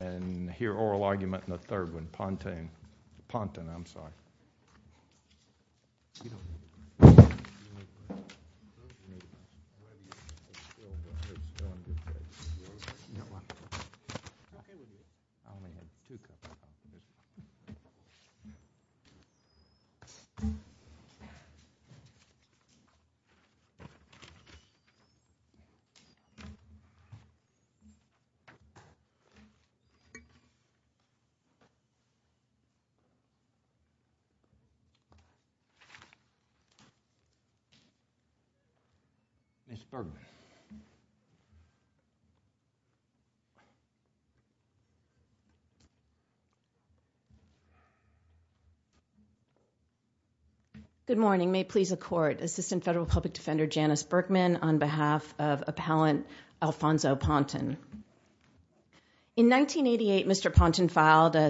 and Hear Oral Argument in the third one. Ponton, I'm sorry. Good morning. May it please the Court, Assistant Federal Public Defender Janice Ponton filed a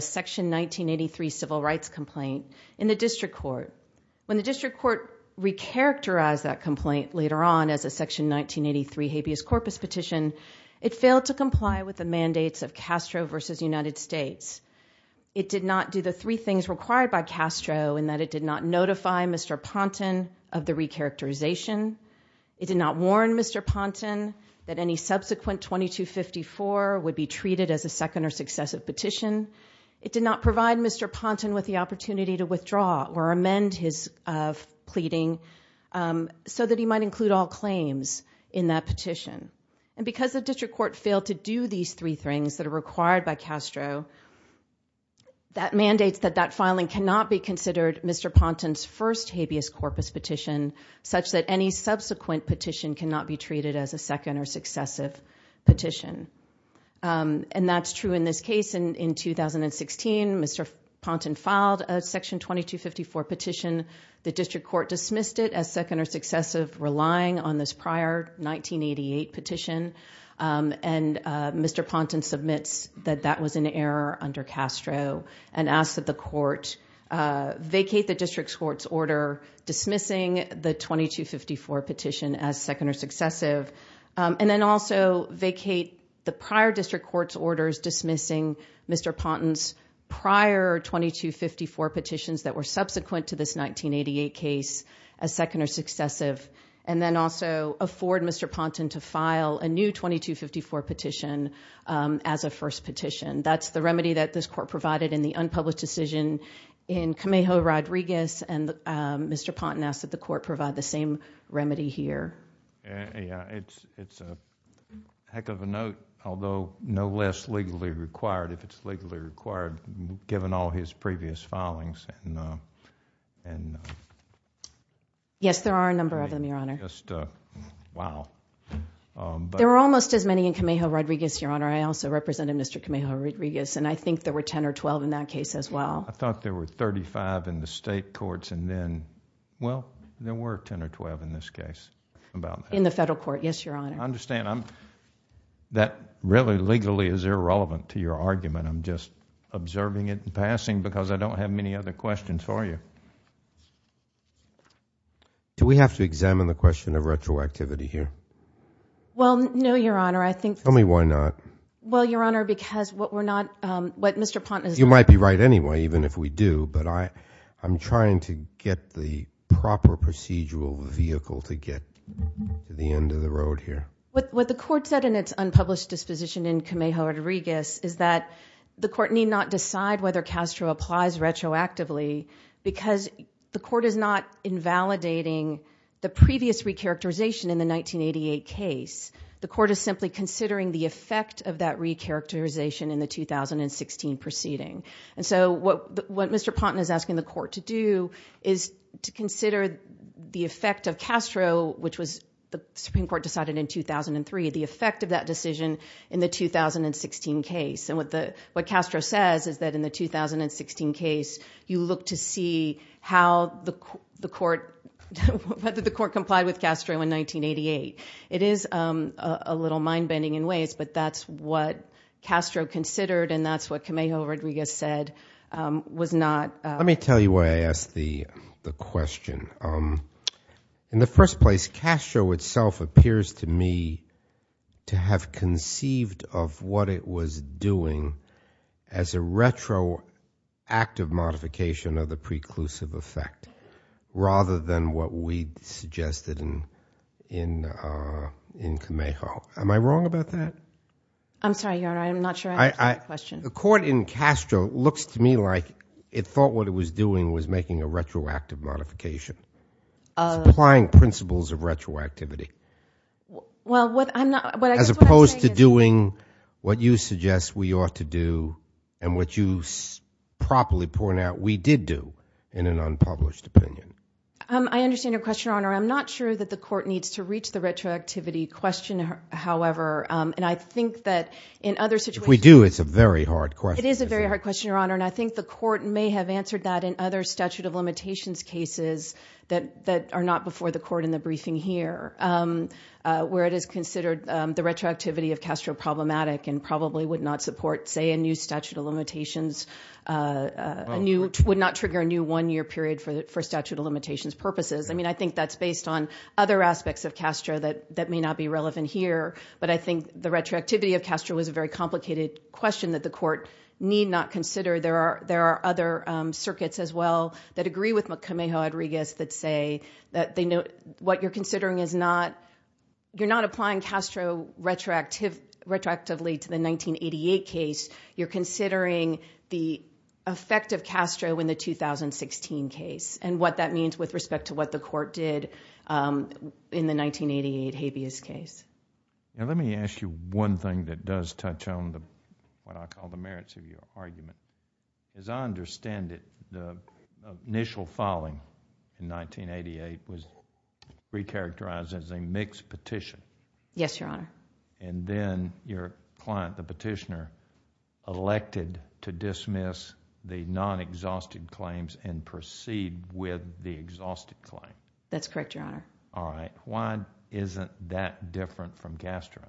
Section 1983 civil rights complaint in the District Court. When the District Court re-characterized that complaint later on as a Section 1983 habeas corpus petition, it failed to comply with the mandates of Castro v. United States. It did not do the three things required by Castro in that it did not notify Mr. Ponton of the re-characterization. It did not warn Mr. Ponton that any subsequent 2254 would be treated as a second or successive petition. It did not provide Mr. Ponton with the opportunity to withdraw or amend his pleading so that he might include all claims in that petition. And because the District Court failed to do these three things that are required by Castro, that mandates that that filing cannot be considered Mr. Ponton's first habeas corpus petition such that any subsequent petition cannot be treated as a second or successive petition. And that's true in this case. In 2016, Mr. Ponton filed a Section 2254 petition. The District Court dismissed it as second or successive, relying on this prior 1988 petition. And Mr. Ponton submits that that was an error under Castro and asks that the Court vacate the District Court's order dismissing the 2254 petition as second or successive. And then also vacate the prior District Court's orders dismissing Mr. Ponton's prior 2254 petitions that were subsequent to this 1988 case as second or successive. And then also afford Mr. Ponton to file a new 2254 petition as a first petition. That's the remedy that this Court provided in the unpublished decision in Camejo Rodriguez. And Mr. Ponton asks that the Court provide the same remedy here. Yeah, it's a heck of a note, although no less legally required, if it's legally required, given all his previous filings. Yes, there are a number of them, Your Honor. Wow. There are almost as many in Camejo Rodriguez, Your Honor. I also represented Mr. Camejo Rodriguez, and I think there were ten or twelve in that case as well. I thought there were thirty-five in the state courts, and then, well, there were ten or twelve in this case. In the federal court, yes, Your Honor. I understand. That really legally is irrelevant to your argument. I'm just observing it in passing because I don't have many other questions for you. Do we have to examine the question of retroactivity here? Well, no, Your Honor. I think— Tell me why not. Well, Your Honor, because what we're not—what Mr. Ponton is— You might be right anyway, even if we do, but I'm trying to get the proper procedural vehicle to get to the end of the road here. What the Court said in its unpublished disposition in Camejo Rodriguez is that the Court need not decide whether Castro applies retroactively because the Court is not invalidating the previous recharacterization in the 1988 case. The Court is simply considering the effect of that recharacterization in the 2016 proceeding. What Mr. Ponton is asking the Court to do is to consider the effect of Castro, which was the Supreme Court decided in 2003, the effect of that decision in the 2016 case. What Castro says is that in the 2016 case, you look to see how the Court—whether the Court complied with Castro in 1988. It is a little mind-bending in ways, but that's what Castro considered, and that's what Camejo Rodriguez said was not— Let me tell you why I asked the question. In the first place, Castro itself appears to me to have conceived of what it was doing as a retroactive modification of the preclusive effect rather than what we suggested in Camejo. Am I wrong about that? I'm sorry, Your Honor. I'm not sure I understand the question. The Court in Castro looks to me like it thought what it was doing was making a retroactive modification, applying principles of retroactivity, as opposed to doing what you suggest we ought to do and what you properly point out we did do in an unpublished opinion. I understand your question, Your Honor. I'm not sure that the Court needs to reach the retroactivity question, however, and I think that in other situations— If we do, it's a very hard question. It is a very hard question, Your Honor, and I think the Court may have answered that in other statute of limitations cases that are not before the Court in the briefing here, where it is considered the retroactivity of Castro problematic and probably would not support, say, a new statute of limitations—would not trigger a new one-year period for statute of limitations purposes. I mean, I think that's based on other aspects of Castro that may not be relevant here, but I think the retroactivity of Castro was a very complicated question that the Court need not consider. There are other circuits as well that agree with McCamejo-Hodriguez that say that what you're considering is not... you're not applying Castro retroactively to the 1988 case. You're considering the effect of Castro in the 2016 case and what that means with respect to what the Court did in the 1988 habeas case. Now, let me ask you one thing that does touch on what I call the merits of your argument. As I understand it, the initial filing in 1988 was recharacterized as a mixed petition. Yes, Your Honor. And then your client, the petitioner, elected to dismiss the non-exhausted claims and proceed with the exhausted claim. That's correct, Your Honor. All right. Why isn't that different from Castro?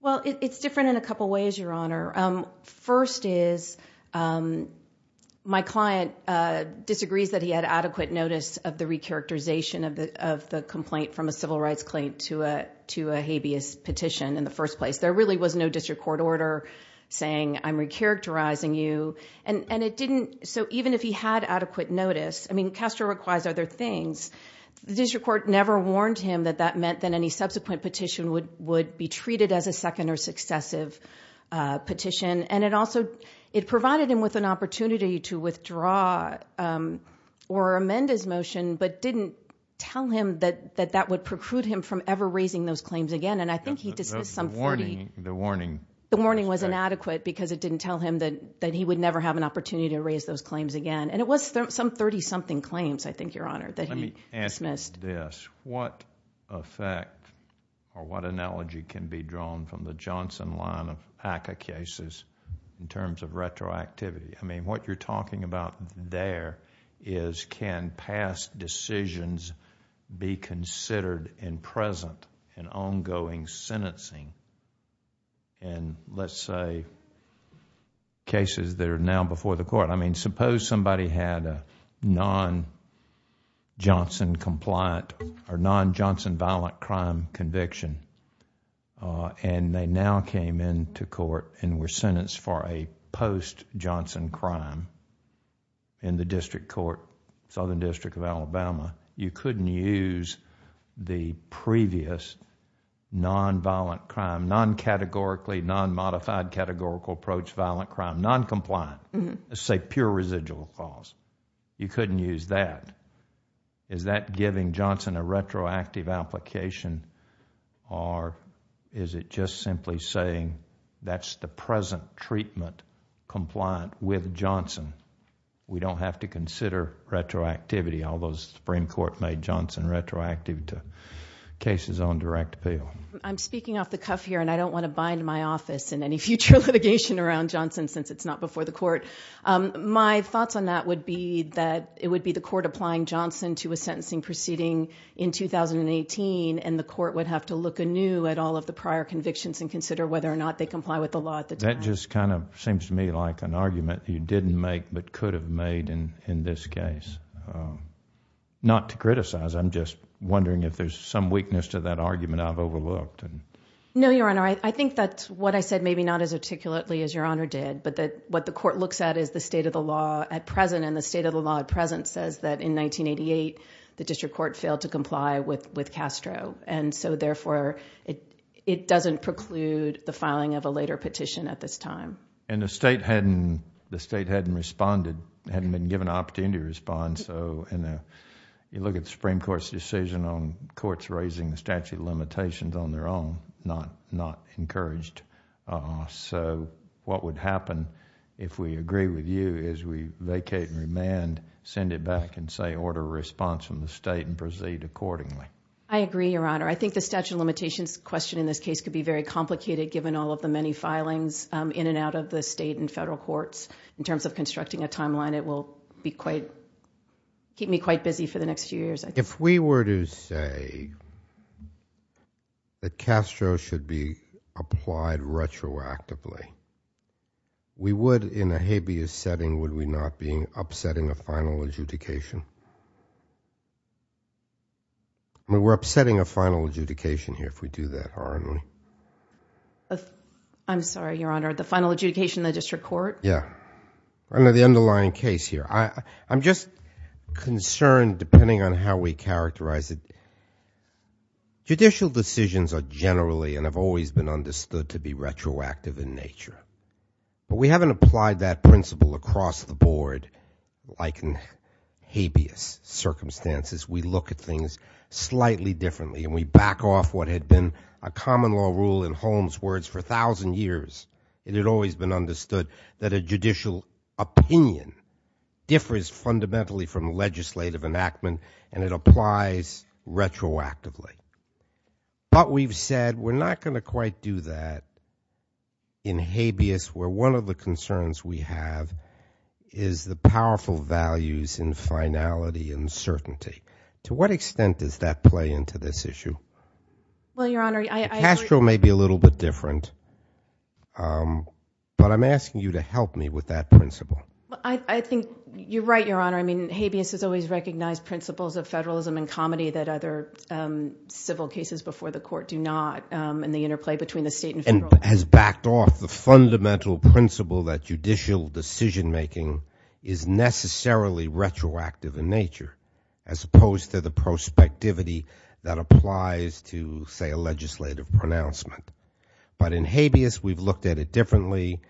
Well, it's different in a couple ways, Your Honor. First is, my client disagrees that he had adequate notice of the recharacterization of the complaint from a civil rights claim to a habeas petition in the first place. There really was no district court order saying, I'm recharacterizing you. And it didn't... so even if he had adequate notice, I mean, Castro requires other things. The district court never warned him that that meant that any subsequent petition would be treated as a second or successive petition. And it also... it provided him with an opportunity to withdraw or amend his motion, but didn't tell him that that would preclude him from ever raising those claims again. And I think he dismissed some... The warning... The warning was inadequate because it didn't tell him that he would never have an opportunity to raise those claims again. He dismissed... Let me ask you this. What effect or what analogy can be drawn from the Johnson line of ACCA cases in terms of retroactivity? I mean, what you're talking about there is, can past decisions be considered in present in ongoing sentencing in, let's say, cases that are now before the court? I mean, suppose somebody had a non-Johnson compliant or non-Johnson violent crime conviction and they now came into court and were sentenced for a post-Johnson crime in the district court, Southern District of Alabama. You couldn't use the previous non-violent crime, non-categorically, non-modified categorical approach violent crime, non-compliant, let's say pure residual clause. You couldn't use that. Is that giving Johnson a retroactive application or is it just simply saying that's the present treatment compliant with Johnson? We don't have to consider retroactivity, although the Supreme Court made Johnson retroactive to cases on direct appeal. I'm speaking off the cuff here and I don't want to bind my office in any future litigation around Johnson since it's not before the court. My thoughts on that would be that it would be the court applying Johnson to a sentencing proceeding in 2018 and the court would have to look anew at all of the prior convictions and consider whether or not they comply with the law at the time. That just kind of seems to me like an argument you didn't make but could have made in this case. Not to criticize. I'm just wondering if there's some weakness to that argument I've overlooked. No, Your Honor. I think that's what I said, maybe not as articulately as Your Honor did, but that what the court looks at is the state of the law at present and the state of the law at present says that in 1988, the district court failed to comply with Castro and so therefore, it doesn't preclude the filing of a later petition at this time. The state hadn't responded, hadn't been given an opportunity to respond. You look at the Supreme Court's decision on courts raising the statute of limitations on their own, not encouraged. What would happen if we agree with you is we vacate and remand, send it back and say order a response from the state and proceed accordingly. I agree, Your Honor. I think the statute of limitations question in this case could be very complicated given all of the many filings in and out of the state and federal courts. In terms of constructing a timeline, it will keep me quite busy for the next few years. If we were to say that Castro should be applied retroactively, we would in a habeas setting, would we not be upsetting a final adjudication? We're upsetting a final adjudication here if we do that, aren't we? I'm sorry, Your Honor. The final adjudication in the district court? Yeah. Under the underlying case here. I'm just concerned depending on how we characterize it. Judicial decisions are generally and have always been understood to be retroactive in nature. But we haven't applied that principle across the board like in habeas circumstances. We look at things slightly differently and we back off what had been a common law rule in Holmes' words for a thousand years. It had always been understood that a judicial opinion differs fundamentally from legislative enactment and it applies retroactively. But we've said we're not going to quite do that in habeas where one of the concerns we have is the powerful values in finality and certainty. To what extent does that play into this issue? Well, Your Honor, I- It's going to be a little bit different, but I'm asking you to help me with that principle. I think you're right, Your Honor. I mean, habeas has always recognized principles of federalism and comedy that other civil cases before the court do not and the interplay between the state and federal- And has backed off the fundamental principle that judicial decision making is necessarily retroactive in nature as opposed to the prospectivity that applies to, say, a legislative pronouncement. But in habeas, we've looked at it differently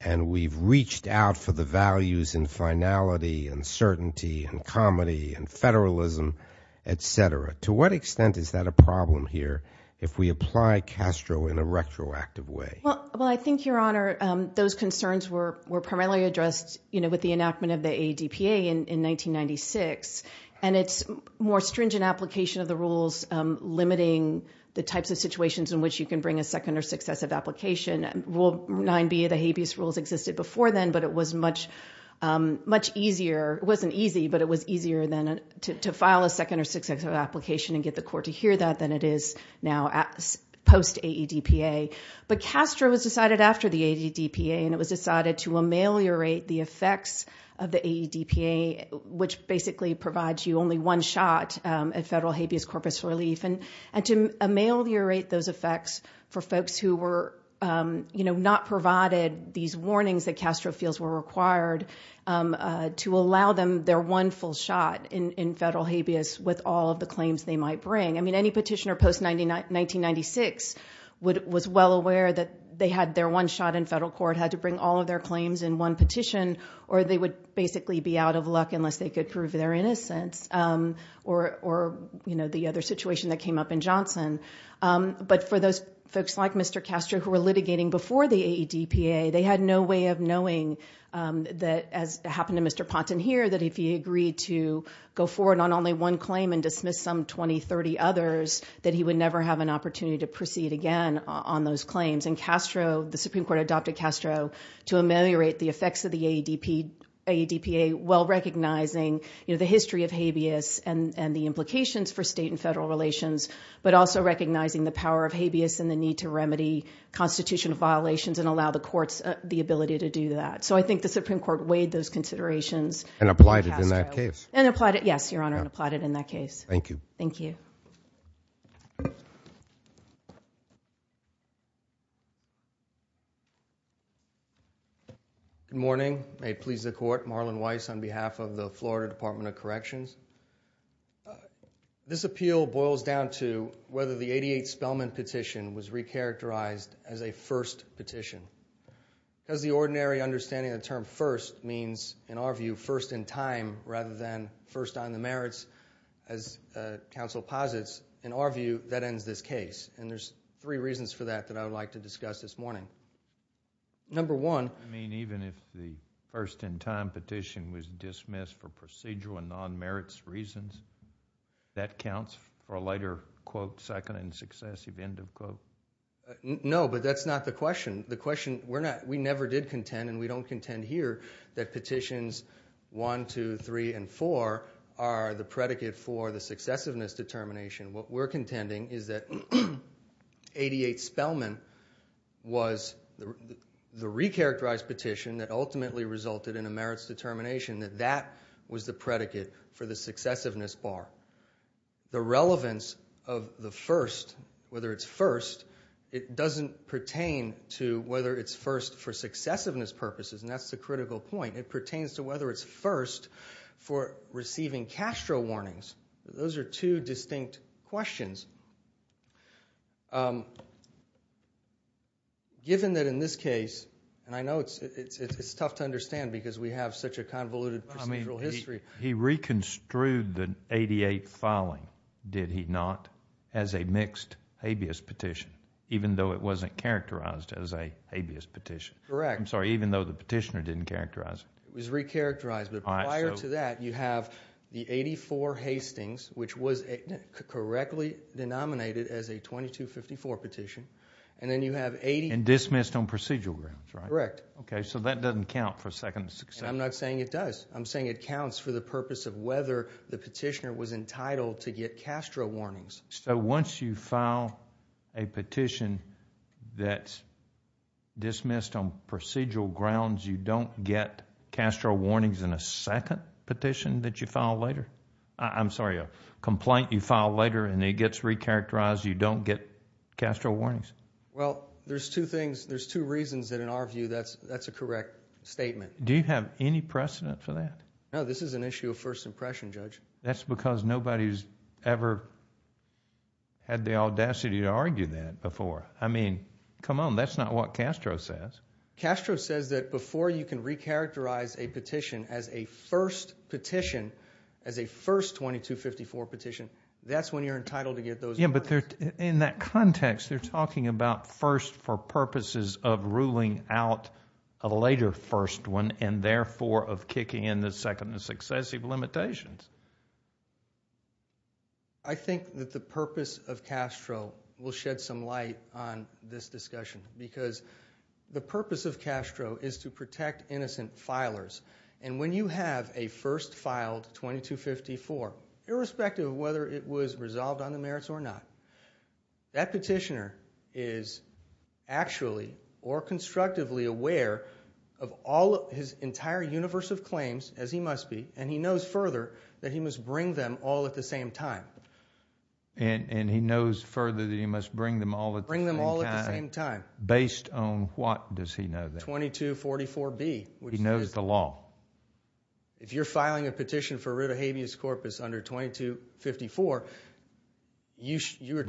and we've reached out for the values in finality and certainty and comedy and federalism, et cetera. To what extent is that a problem here if we apply Castro in a retroactive way? Well, I think, Your Honor, those concerns were primarily addressed, you know, with the enactment of the ADPA in 1996. And it's more stringent application of the rules limiting the types of situations in which you can bring a second or successive application. Rule 9B of the habeas rules existed before then, but it was much easier- It wasn't easy, but it was easier to file a second or successive application and get the court to hear that than it is now post-AEDPA. But Castro was decided after the AEDPA and it was decided to ameliorate the effects of the AEDPA, which basically provides you only one shot at federal habeas corpus relief. And to ameliorate those effects for folks who were, you know, not provided these warnings that Castro feels were required to allow them their one full shot in federal habeas with all of the claims they might bring. I mean, any petitioner post-1996 was well aware that they had their one shot in federal court, had to bring all of their claims in one petition, or they would basically be out of luck unless they could prove their innocence or, you know, the other situation that came up in Johnson. But for those folks like Mr. Castro who were litigating before the AEDPA, they had no way of knowing that, as happened to Mr. Ponton here, that if he agreed to go forward on only one claim and dismiss some 20, 30 others, that he would never have an opportunity to proceed again on those claims. And Castro, the Supreme Court adopted Castro to ameliorate the effects of the AEDPA well recognizing, you know, the history of habeas and the implications for state and federal relations, but also recognizing the power of habeas and the need to remedy constitutional violations and allow the courts the ability to do that. So I think the Supreme Court weighed those considerations. And applied it in that case. And applied it, yes, Your Honor, and applied it in that case. Thank you. Thank you. Good morning. May it please the Court, Marlon Weiss on behalf of the Florida Department of Corrections. This appeal boils down to whether the 88 Spellman petition was recharacterized as a first petition. Because the ordinary understanding of the term first means, in our view, first in time rather than first on the merits. As counsel posits, in our view, that ends this case. And there's three reasons for that that I would like to discuss this morning. Number one. I mean, even if the first in time petition was dismissed for procedural and non-merits reasons, that counts for a lighter quote, second and successive end of quote? No, but that's not the question. The question, we're not, we never did contend, and we don't contend here, that petitions 1, 2, 3, and 4 are the predicate for the successiveness determination. What we're contending is that 88 Spellman was the recharacterized petition that ultimately resulted in a merits determination, that that was the predicate for the successiveness bar. The relevance of the first, whether it's first, it doesn't pertain to whether it's first for successiveness purposes, and that's the critical point. It pertains to whether it's first for receiving Castro warnings. Those are two distinct questions. Given that in this case, and I know it's tough to understand because we have such a convoluted procedural history. I mean, he reconstrued the 88 filing, did he not, as a mixed habeas petition, even though it wasn't characterized as a habeas petition? Correct. I'm sorry, even though the petitioner didn't characterize it. It was recharacterized, but prior to that, you have the 84 Hastings, which was correctly denominated as a 2254 petition, and then you have 80- And dismissed on procedural grounds, right? Correct. Okay, so that doesn't count for second successiveness. I'm not saying it does. I'm saying it counts for the purpose of whether the petitioner was entitled to get Castro warnings. So once you file a petition that's dismissed on procedural grounds, you don't get Castro warnings in a second petition that you file later? I'm sorry, a complaint you file later and it gets recharacterized, you don't get Castro warnings? Well, there's two reasons that in our view, that's a correct statement. Do you have any precedent for that? No, this is an issue of first impression, Judge. That's because nobody's ever had the audacity to argue that before. I mean, come on, that's not what Castro says. Castro says that before you can recharacterize a petition as a first petition, as a first 2254 petition, that's when you're entitled to get those warnings. In that context, they're talking about first for purposes of ruling out a later first one and therefore of kicking in the second and successive limitations. I think that the purpose of Castro will shed some light on this discussion because the purpose of Castro is to protect innocent filers. And when you have a first filed 2254, irrespective of whether it was resolved on the merits or not, that petitioner is actually or constructively aware of all of his entire universe of claims, as he must be, and he knows further that he must bring them all at the same time. And he knows further that he must bring them all at the same time, based on what does he know then? 2244B. He knows the law. If you're filing a petition for a writ of habeas corpus under 2254, you should...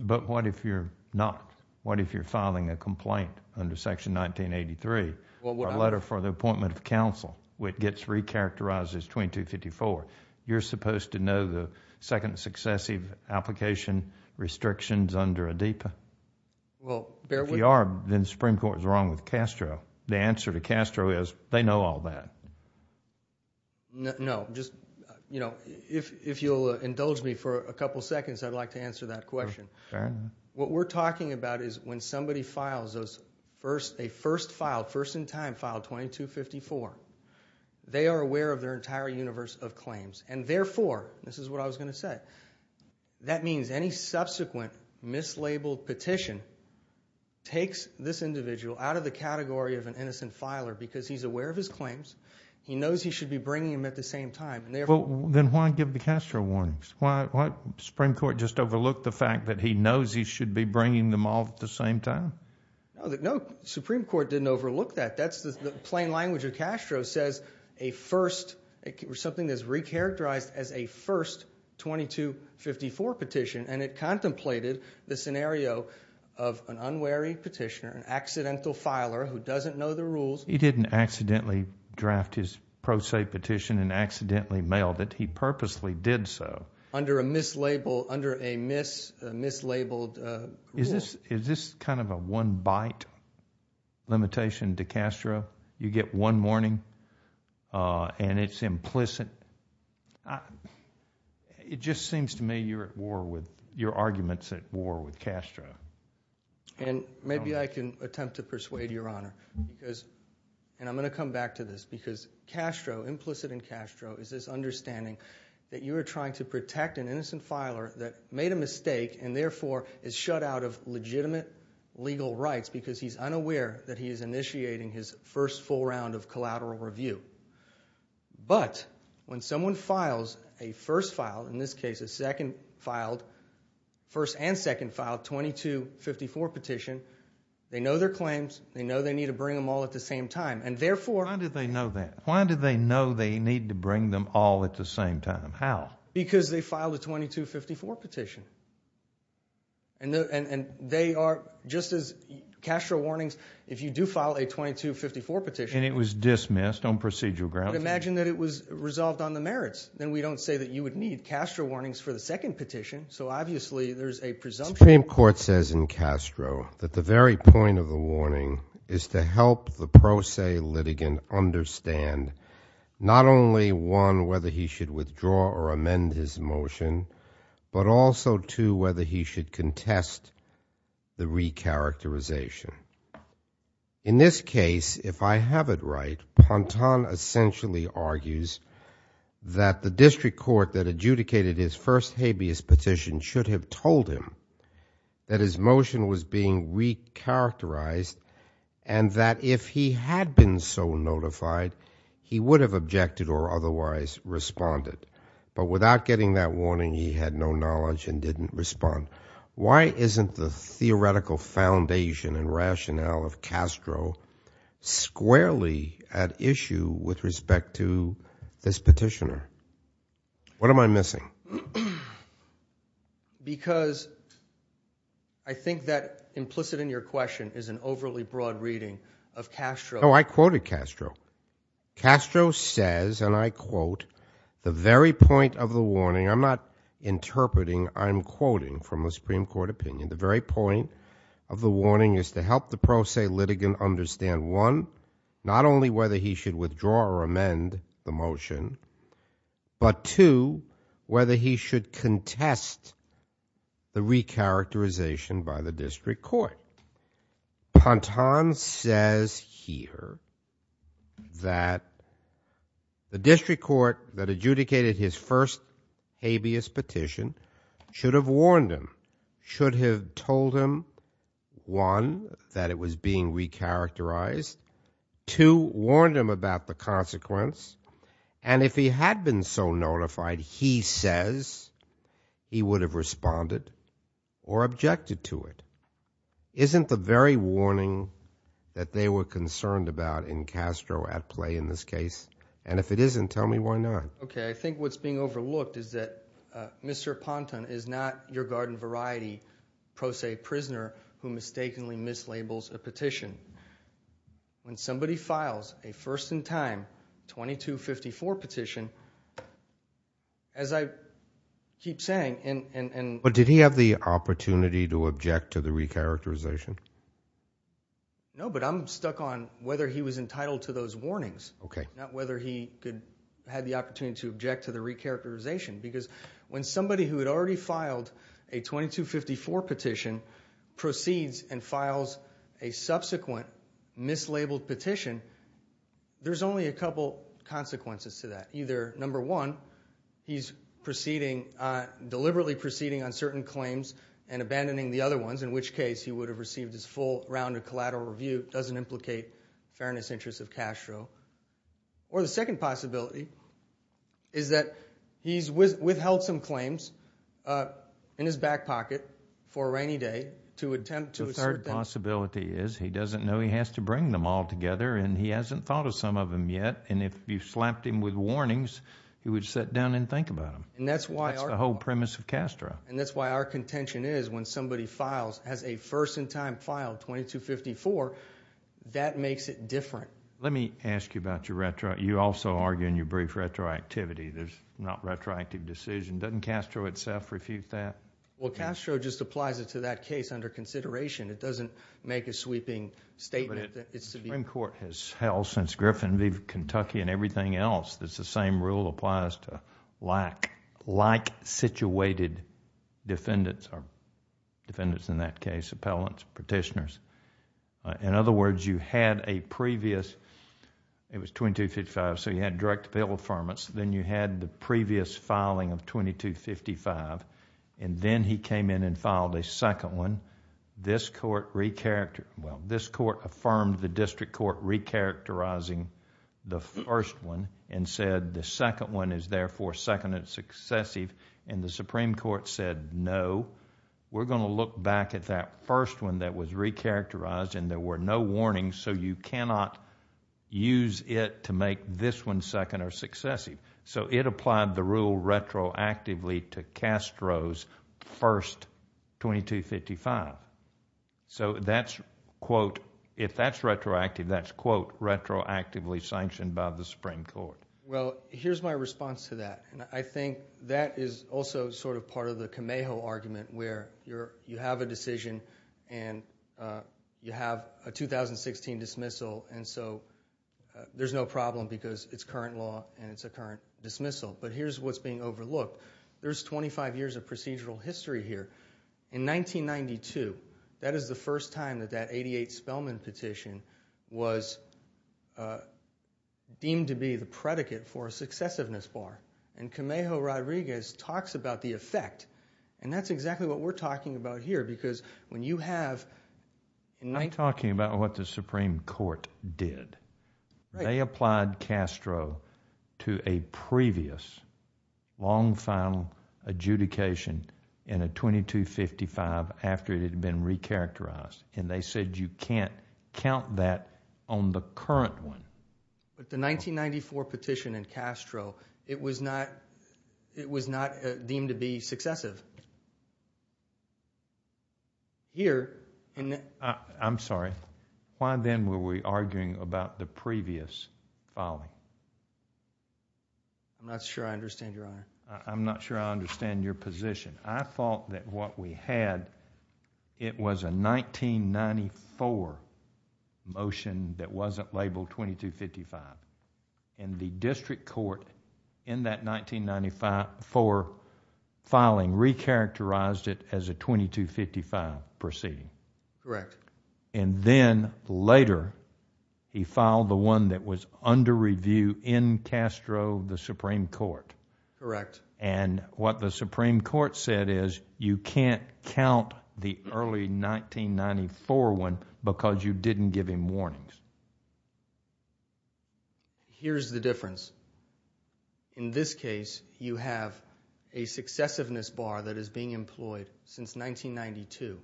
But what if you're not? What if you're filing a complaint under Section 1983, a letter for the appointment of counsel, which gets recharacterized as 2254? You're supposed to know the second and successive application restrictions under ADEPA? If you are, then the Supreme Court is wrong with Castro. The answer to Castro is, they know all that. No, just, you know, if you'll indulge me for a couple seconds, I'd like to answer that question. What we're talking about is when somebody files a first filed, first in time filed 2254, they are aware of their entire universe of claims. And therefore, this is what I was going to say, that means any subsequent mislabeled petition takes this individual out of the category of an innocent filer, because he's aware of his claims, he knows he should be bringing them at the same time, and therefore... Then why give the Castro warnings? Why? Supreme Court just overlooked the fact that he knows he should be bringing them all at the same time? No, the Supreme Court didn't overlook that. That's the plain language of Castro, says a first, something that's recharacterized as a first 2254 petition, and it contemplated the scenario of an unwary petitioner, an accidental filer who doesn't know the rules. He didn't accidentally draft his pro se petition and accidentally mailed it. He purposely did so. Under a mislabeled, under a mislabeled rule. Is this kind of a one bite limitation to Castro? You get one warning, and it's implicit. It just seems to me you're at war with, your argument's at war with Castro. And maybe I can attempt to persuade your honor, because, and I'm going to come back to this, because Castro, implicit in Castro, is this understanding that you are trying to protect an innocent filer that made a mistake, and therefore is shut out of legitimate legal rights because he's unaware that he is initiating his first full round of collateral review. But when someone files a first file, in this case a second filed, first and second filed 2254 petition, they know their claims, they know they need to bring them all at the same time, and therefore- Why do they know that? Why do they know they need to bring them all at the same time? How? Because they filed a 2254 petition. And they are, just as Castro warnings, if you do file a 2254 petition- And it was dismissed on procedural grounds. But imagine that it was resolved on the merits. Then we don't say that you would need Castro warnings for the second petition, so obviously there's a presumption. The Supreme Court says in Castro that the very point of the warning is to help the pro se litigant understand not only one, whether he should withdraw or amend his motion, but also two, whether he should contest the re-characterization. In this case, if I have it right, Pontan essentially argues that the district court that adjudicated his first habeas petition should have told him that his motion was being re-characterized and that if he had been so notified, he would have objected or otherwise responded. But without getting that warning, he had no knowledge and didn't respond. Why isn't the theoretical foundation and rationale of Castro squarely at issue with respect to this petitioner? What am I missing? Because I think that implicit in your question is an overly broad reading of Castro- No, I quoted Castro. Castro says, and I quote, the very point of the warning, I'm not interpreting, I'm quoting from a Supreme Court opinion, the very point of the warning is to help the pro se litigant understand one, not only whether he should withdraw or amend the motion, but two, whether he should contest the re-characterization by the district court. Pontan says here that the district court that adjudicated his first habeas petition should have warned him, should have told him, one, that it was being re-characterized, two, warned him about the consequence, and if he had been so notified, he says he would have responded or objected to it. Isn't the very warning that they were concerned about in Castro at play in this case? And if it isn't, tell me why not. Okay, I think what's being overlooked is that Mr. Pontan is not your garden variety pro se prisoner who mistakenly mislabels a petition. When somebody files a first in time 2254 petition, as I keep saying- But did he have the opportunity to object to the re-characterization? No, but I'm stuck on whether he was entitled to those warnings, not whether he had the opportunity to object to the re-characterization. Because when somebody who had already filed a 2254 petition proceeds and files a subsequent mislabeled petition, there's only a couple consequences to that. Either, number one, he's deliberately proceeding on certain claims and abandoning the other ones, in which case he would have received his full round of collateral review. It doesn't implicate fairness interests of Castro. Or the second possibility is that he's withheld some claims in his back pocket for a rainy day to attempt to assert- The third possibility is he doesn't know he has to bring them all together and he hasn't thought of some of them yet and if you slapped him with warnings, he would sit down and think about them. And that's why- That's the whole premise of Castro. And that's why our contention is when somebody has a first in time file, 2254, that makes it different. Let me ask you about your retro, you also argue in your brief retroactivity, there's not retroactive decision, doesn't Castro itself refute that? Well Castro just applies it to that case under consideration, it doesn't make a sweeping statement that it's to be- The Supreme Court has held since Griffin v. Kentucky and everything else that the same rule applies to like-situated defendants or defendants in that case, appellants, petitioners. In other words, you had a previous... it was 2255, so you had direct appeal affirmance. Then you had the previous filing of 2255 and then he came in and filed a second one. This court re-characterized... well, this court affirmed the district court re-characterizing the first one and said the second one is therefore second and successive. The Supreme Court said no, we're going to look back at that first one that was re-characterized and there were no warnings, so you cannot use it to make this one second or successive. So it applied the rule retroactively to Castro's first 2255. So that's, quote, if that's retroactive, that's, quote, retroactively sanctioned by the Supreme Court. Well, here's my response to that and I think that is also sort of part of the cameo argument where you have a decision and you have a 2016 dismissal and so there's no problem because it's current law and it's a current dismissal, but here's what's being overlooked. There's 25 years of procedural history here. In 1992, that is the first time that that 88 Spellman petition was deemed to be the predicate for a successiveness bar and Cameo Rodriguez talks about the effect and that's exactly what we're talking about here because when you have... to a previous long final adjudication in a 2255 after it had been re-characterized and they said you can't count that on the current one. But the 1994 petition in Castro, it was not deemed to be successive. Here... I'm sorry, why then were we arguing about the previous filing? I'm not sure I understand your honor. I'm not sure I understand your position. I thought that what we had, it was a 1994 motion that wasn't labeled 2255 and the district court in that 1994 filing re-characterized it as a 2255 proceeding. Correct. Then later, he filed the one that was under review in Castro, the Supreme Court. Correct. What the Supreme Court said is you can't count the early 1994 one because you didn't give him warnings. Here's the difference. In this case, you have a successiveness bar that is being employed since 1992.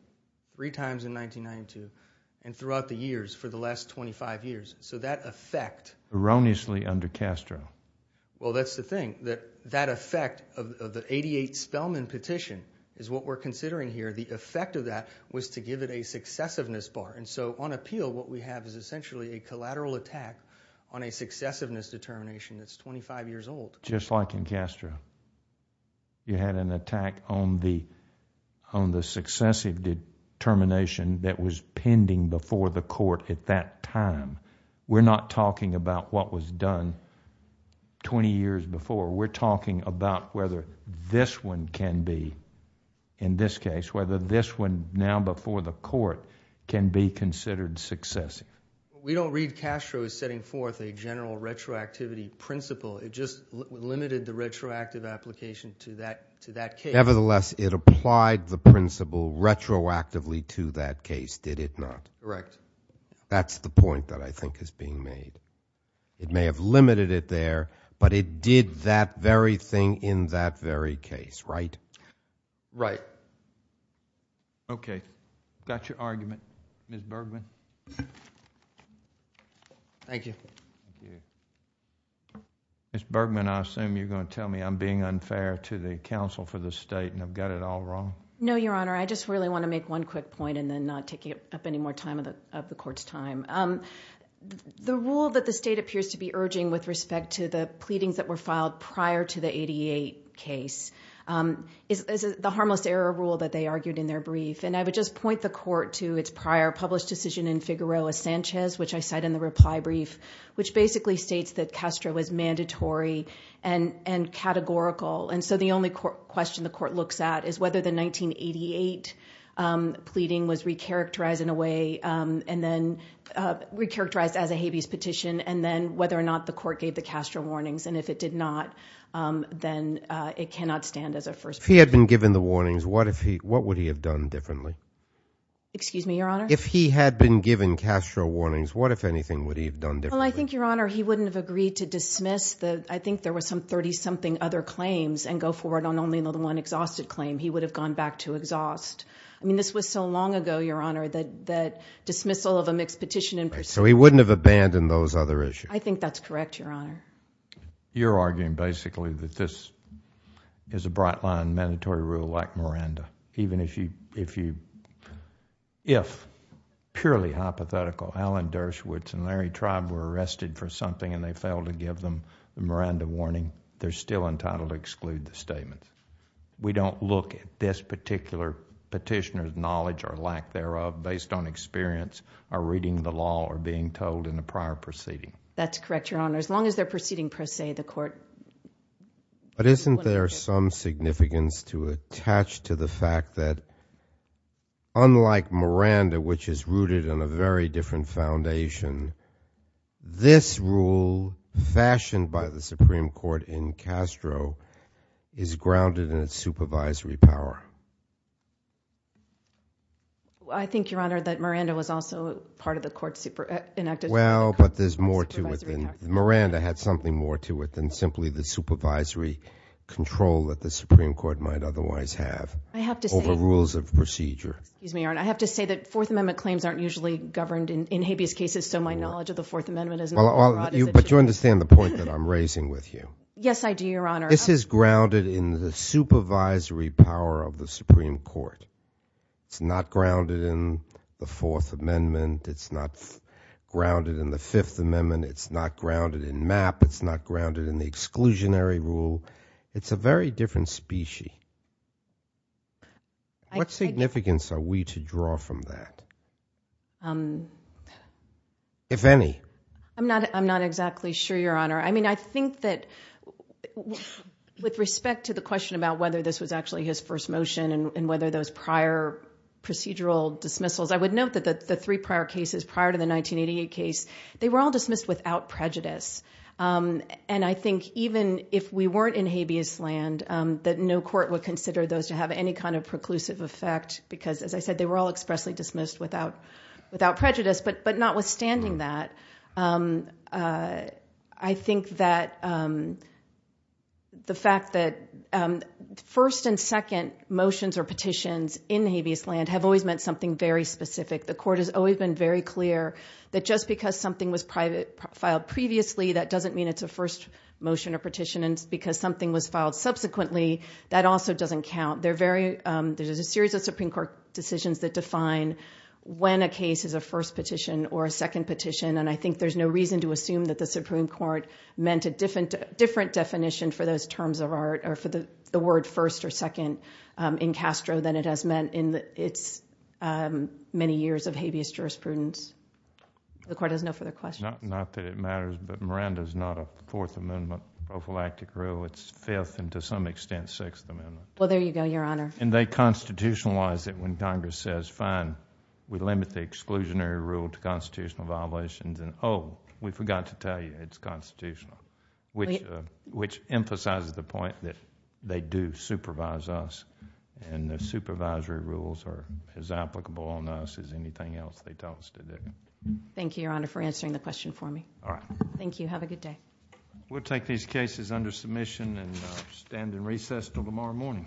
Three times in 1992 and throughout the years for the last 25 years. So that effect... Erroneously under Castro. Well, that's the thing that that effect of the 88 Spellman petition is what we're considering here. The effect of that was to give it a successiveness bar. And so on appeal, what we have is essentially a collateral attack on a successiveness determination that's 25 years old. Just like in Castro, you had an attack on the successive determination that was pending before the court at that time. We're not talking about what was done 20 years before. We're talking about whether this one can be, in this case, whether this one now before the court can be considered successive. We don't read Castro as setting forth a general retroactivity principle. It just limited the retroactive application to that case. Nevertheless, it applied the principle retroactively to that case, did it not? Correct. That's the point that I think is being made. It may have limited it there, but it did that very thing in that very case, right? Right. Okay. Got your argument. Ms. Bergman. Thank you. Ms. Bergman, I assume you're going to tell me I'm being unfair to the counsel for the state and I've got it all wrong. No, Your Honor. I just really want to make one quick point and then not take up any more time of the court's time. The rule that the state appears to be urging with respect to the pleadings that were filed prior to the 88 case is the harmless error rule that they argued in their brief. And I would just point the court to its prior published decision in Figueroa-Sanchez, which I cite in the reply brief, which basically states that Castro was mandatory and categorical. And so the only question the court looks at is whether the 1988 pleading was recharacterized in a way and then recharacterized as a habeas petition and then whether or not the court gave the Castro warnings. And if it did not, then it cannot stand as a first. If he had been given the warnings, what would he have done differently? Excuse me, Your Honor? If he had been given Castro warnings, what, if anything, would he have done differently? Well, I think, Your Honor, he wouldn't have agreed to dismiss the, I think there were some 30-something other claims and go forward on only the one exhausted claim. He would have gone back to exhaust. I mean, this was so long ago, Your Honor, that dismissal of a mixed petition. Right. So he wouldn't have abandoned those other issues. I think that's correct, Your Honor. You're arguing basically that this is a bright line mandatory rule like Miranda, even if you, if purely hypothetical, Alan Dershowitz and Larry Tribe were arrested for something and they failed to give them the Miranda warning, they're still entitled to exclude the statement. We don't look at this particular petitioner's knowledge or lack thereof based on experience or reading the law or being told in a prior proceeding. That's correct, Your Honor. As long as they're proceeding per se, the court... But isn't there some significance to attach to the fact that unlike Miranda, which is rooted in a very different foundation, this rule fashioned by the Supreme Court in Castro is grounded in its supervisory power? I think, Your Honor, that Miranda was also part of the court enacted... Well, but there's more to it than... control that the Supreme Court might otherwise have... I have to say...... over rules of procedure. Excuse me, Your Honor. I have to say that Fourth Amendment claims aren't usually governed in habeas cases, so my knowledge of the Fourth Amendment isn't as broad as it should be. But you understand the point that I'm raising with you? Yes, I do, Your Honor. This is grounded in the supervisory power of the Supreme Court. It's not grounded in the Fourth Amendment. It's not grounded in the Fifth Amendment. It's not grounded in MAP. It's not grounded in the exclusionary rule. It's a very different species. What significance are we to draw from that, if any? I'm not exactly sure, Your Honor. I mean, I think that with respect to the question about whether this was actually his first motion and whether those prior procedural dismissals... I would note that the three prior cases prior to the 1988 case, they were all dismissed without prejudice. And I think even if we weren't in habeas land, that no court would consider those to have any kind of preclusive effect because, as I said, they were all expressly dismissed without prejudice. But notwithstanding that, I think that the fact that first and second motions or petitions in habeas land have always meant something very specific. The court has always been very clear that just because something was filed previously, that doesn't mean it's a first motion or petition. And because something was filed subsequently, that also doesn't count. There's a series of Supreme Court decisions that define when a case is a first petition or a second petition. And I think there's no reason to assume that the Supreme Court meant a different definition for those terms of art or for the word first or second in Castro than it has meant in its many years of habeas jurisprudence. The court has no further questions. Not that it matters, but Miranda is not a Fourth Amendment prophylactic rule. It's Fifth and to some extent Sixth Amendment. Well, there you go, Your Honor. And they constitutionalize it when Congress says, fine, we limit the exclusionary rule to constitutional violations. And oh, we forgot to tell you it's constitutional, which emphasizes the point that they do supervise us. And the supervisory rules are as applicable on us as anything else they tell us to do. Thank you, Your Honor, for answering the question for me. All right. Thank you. Have a good day. We'll take these cases under submission and stand in recess till tomorrow morning. Thank you.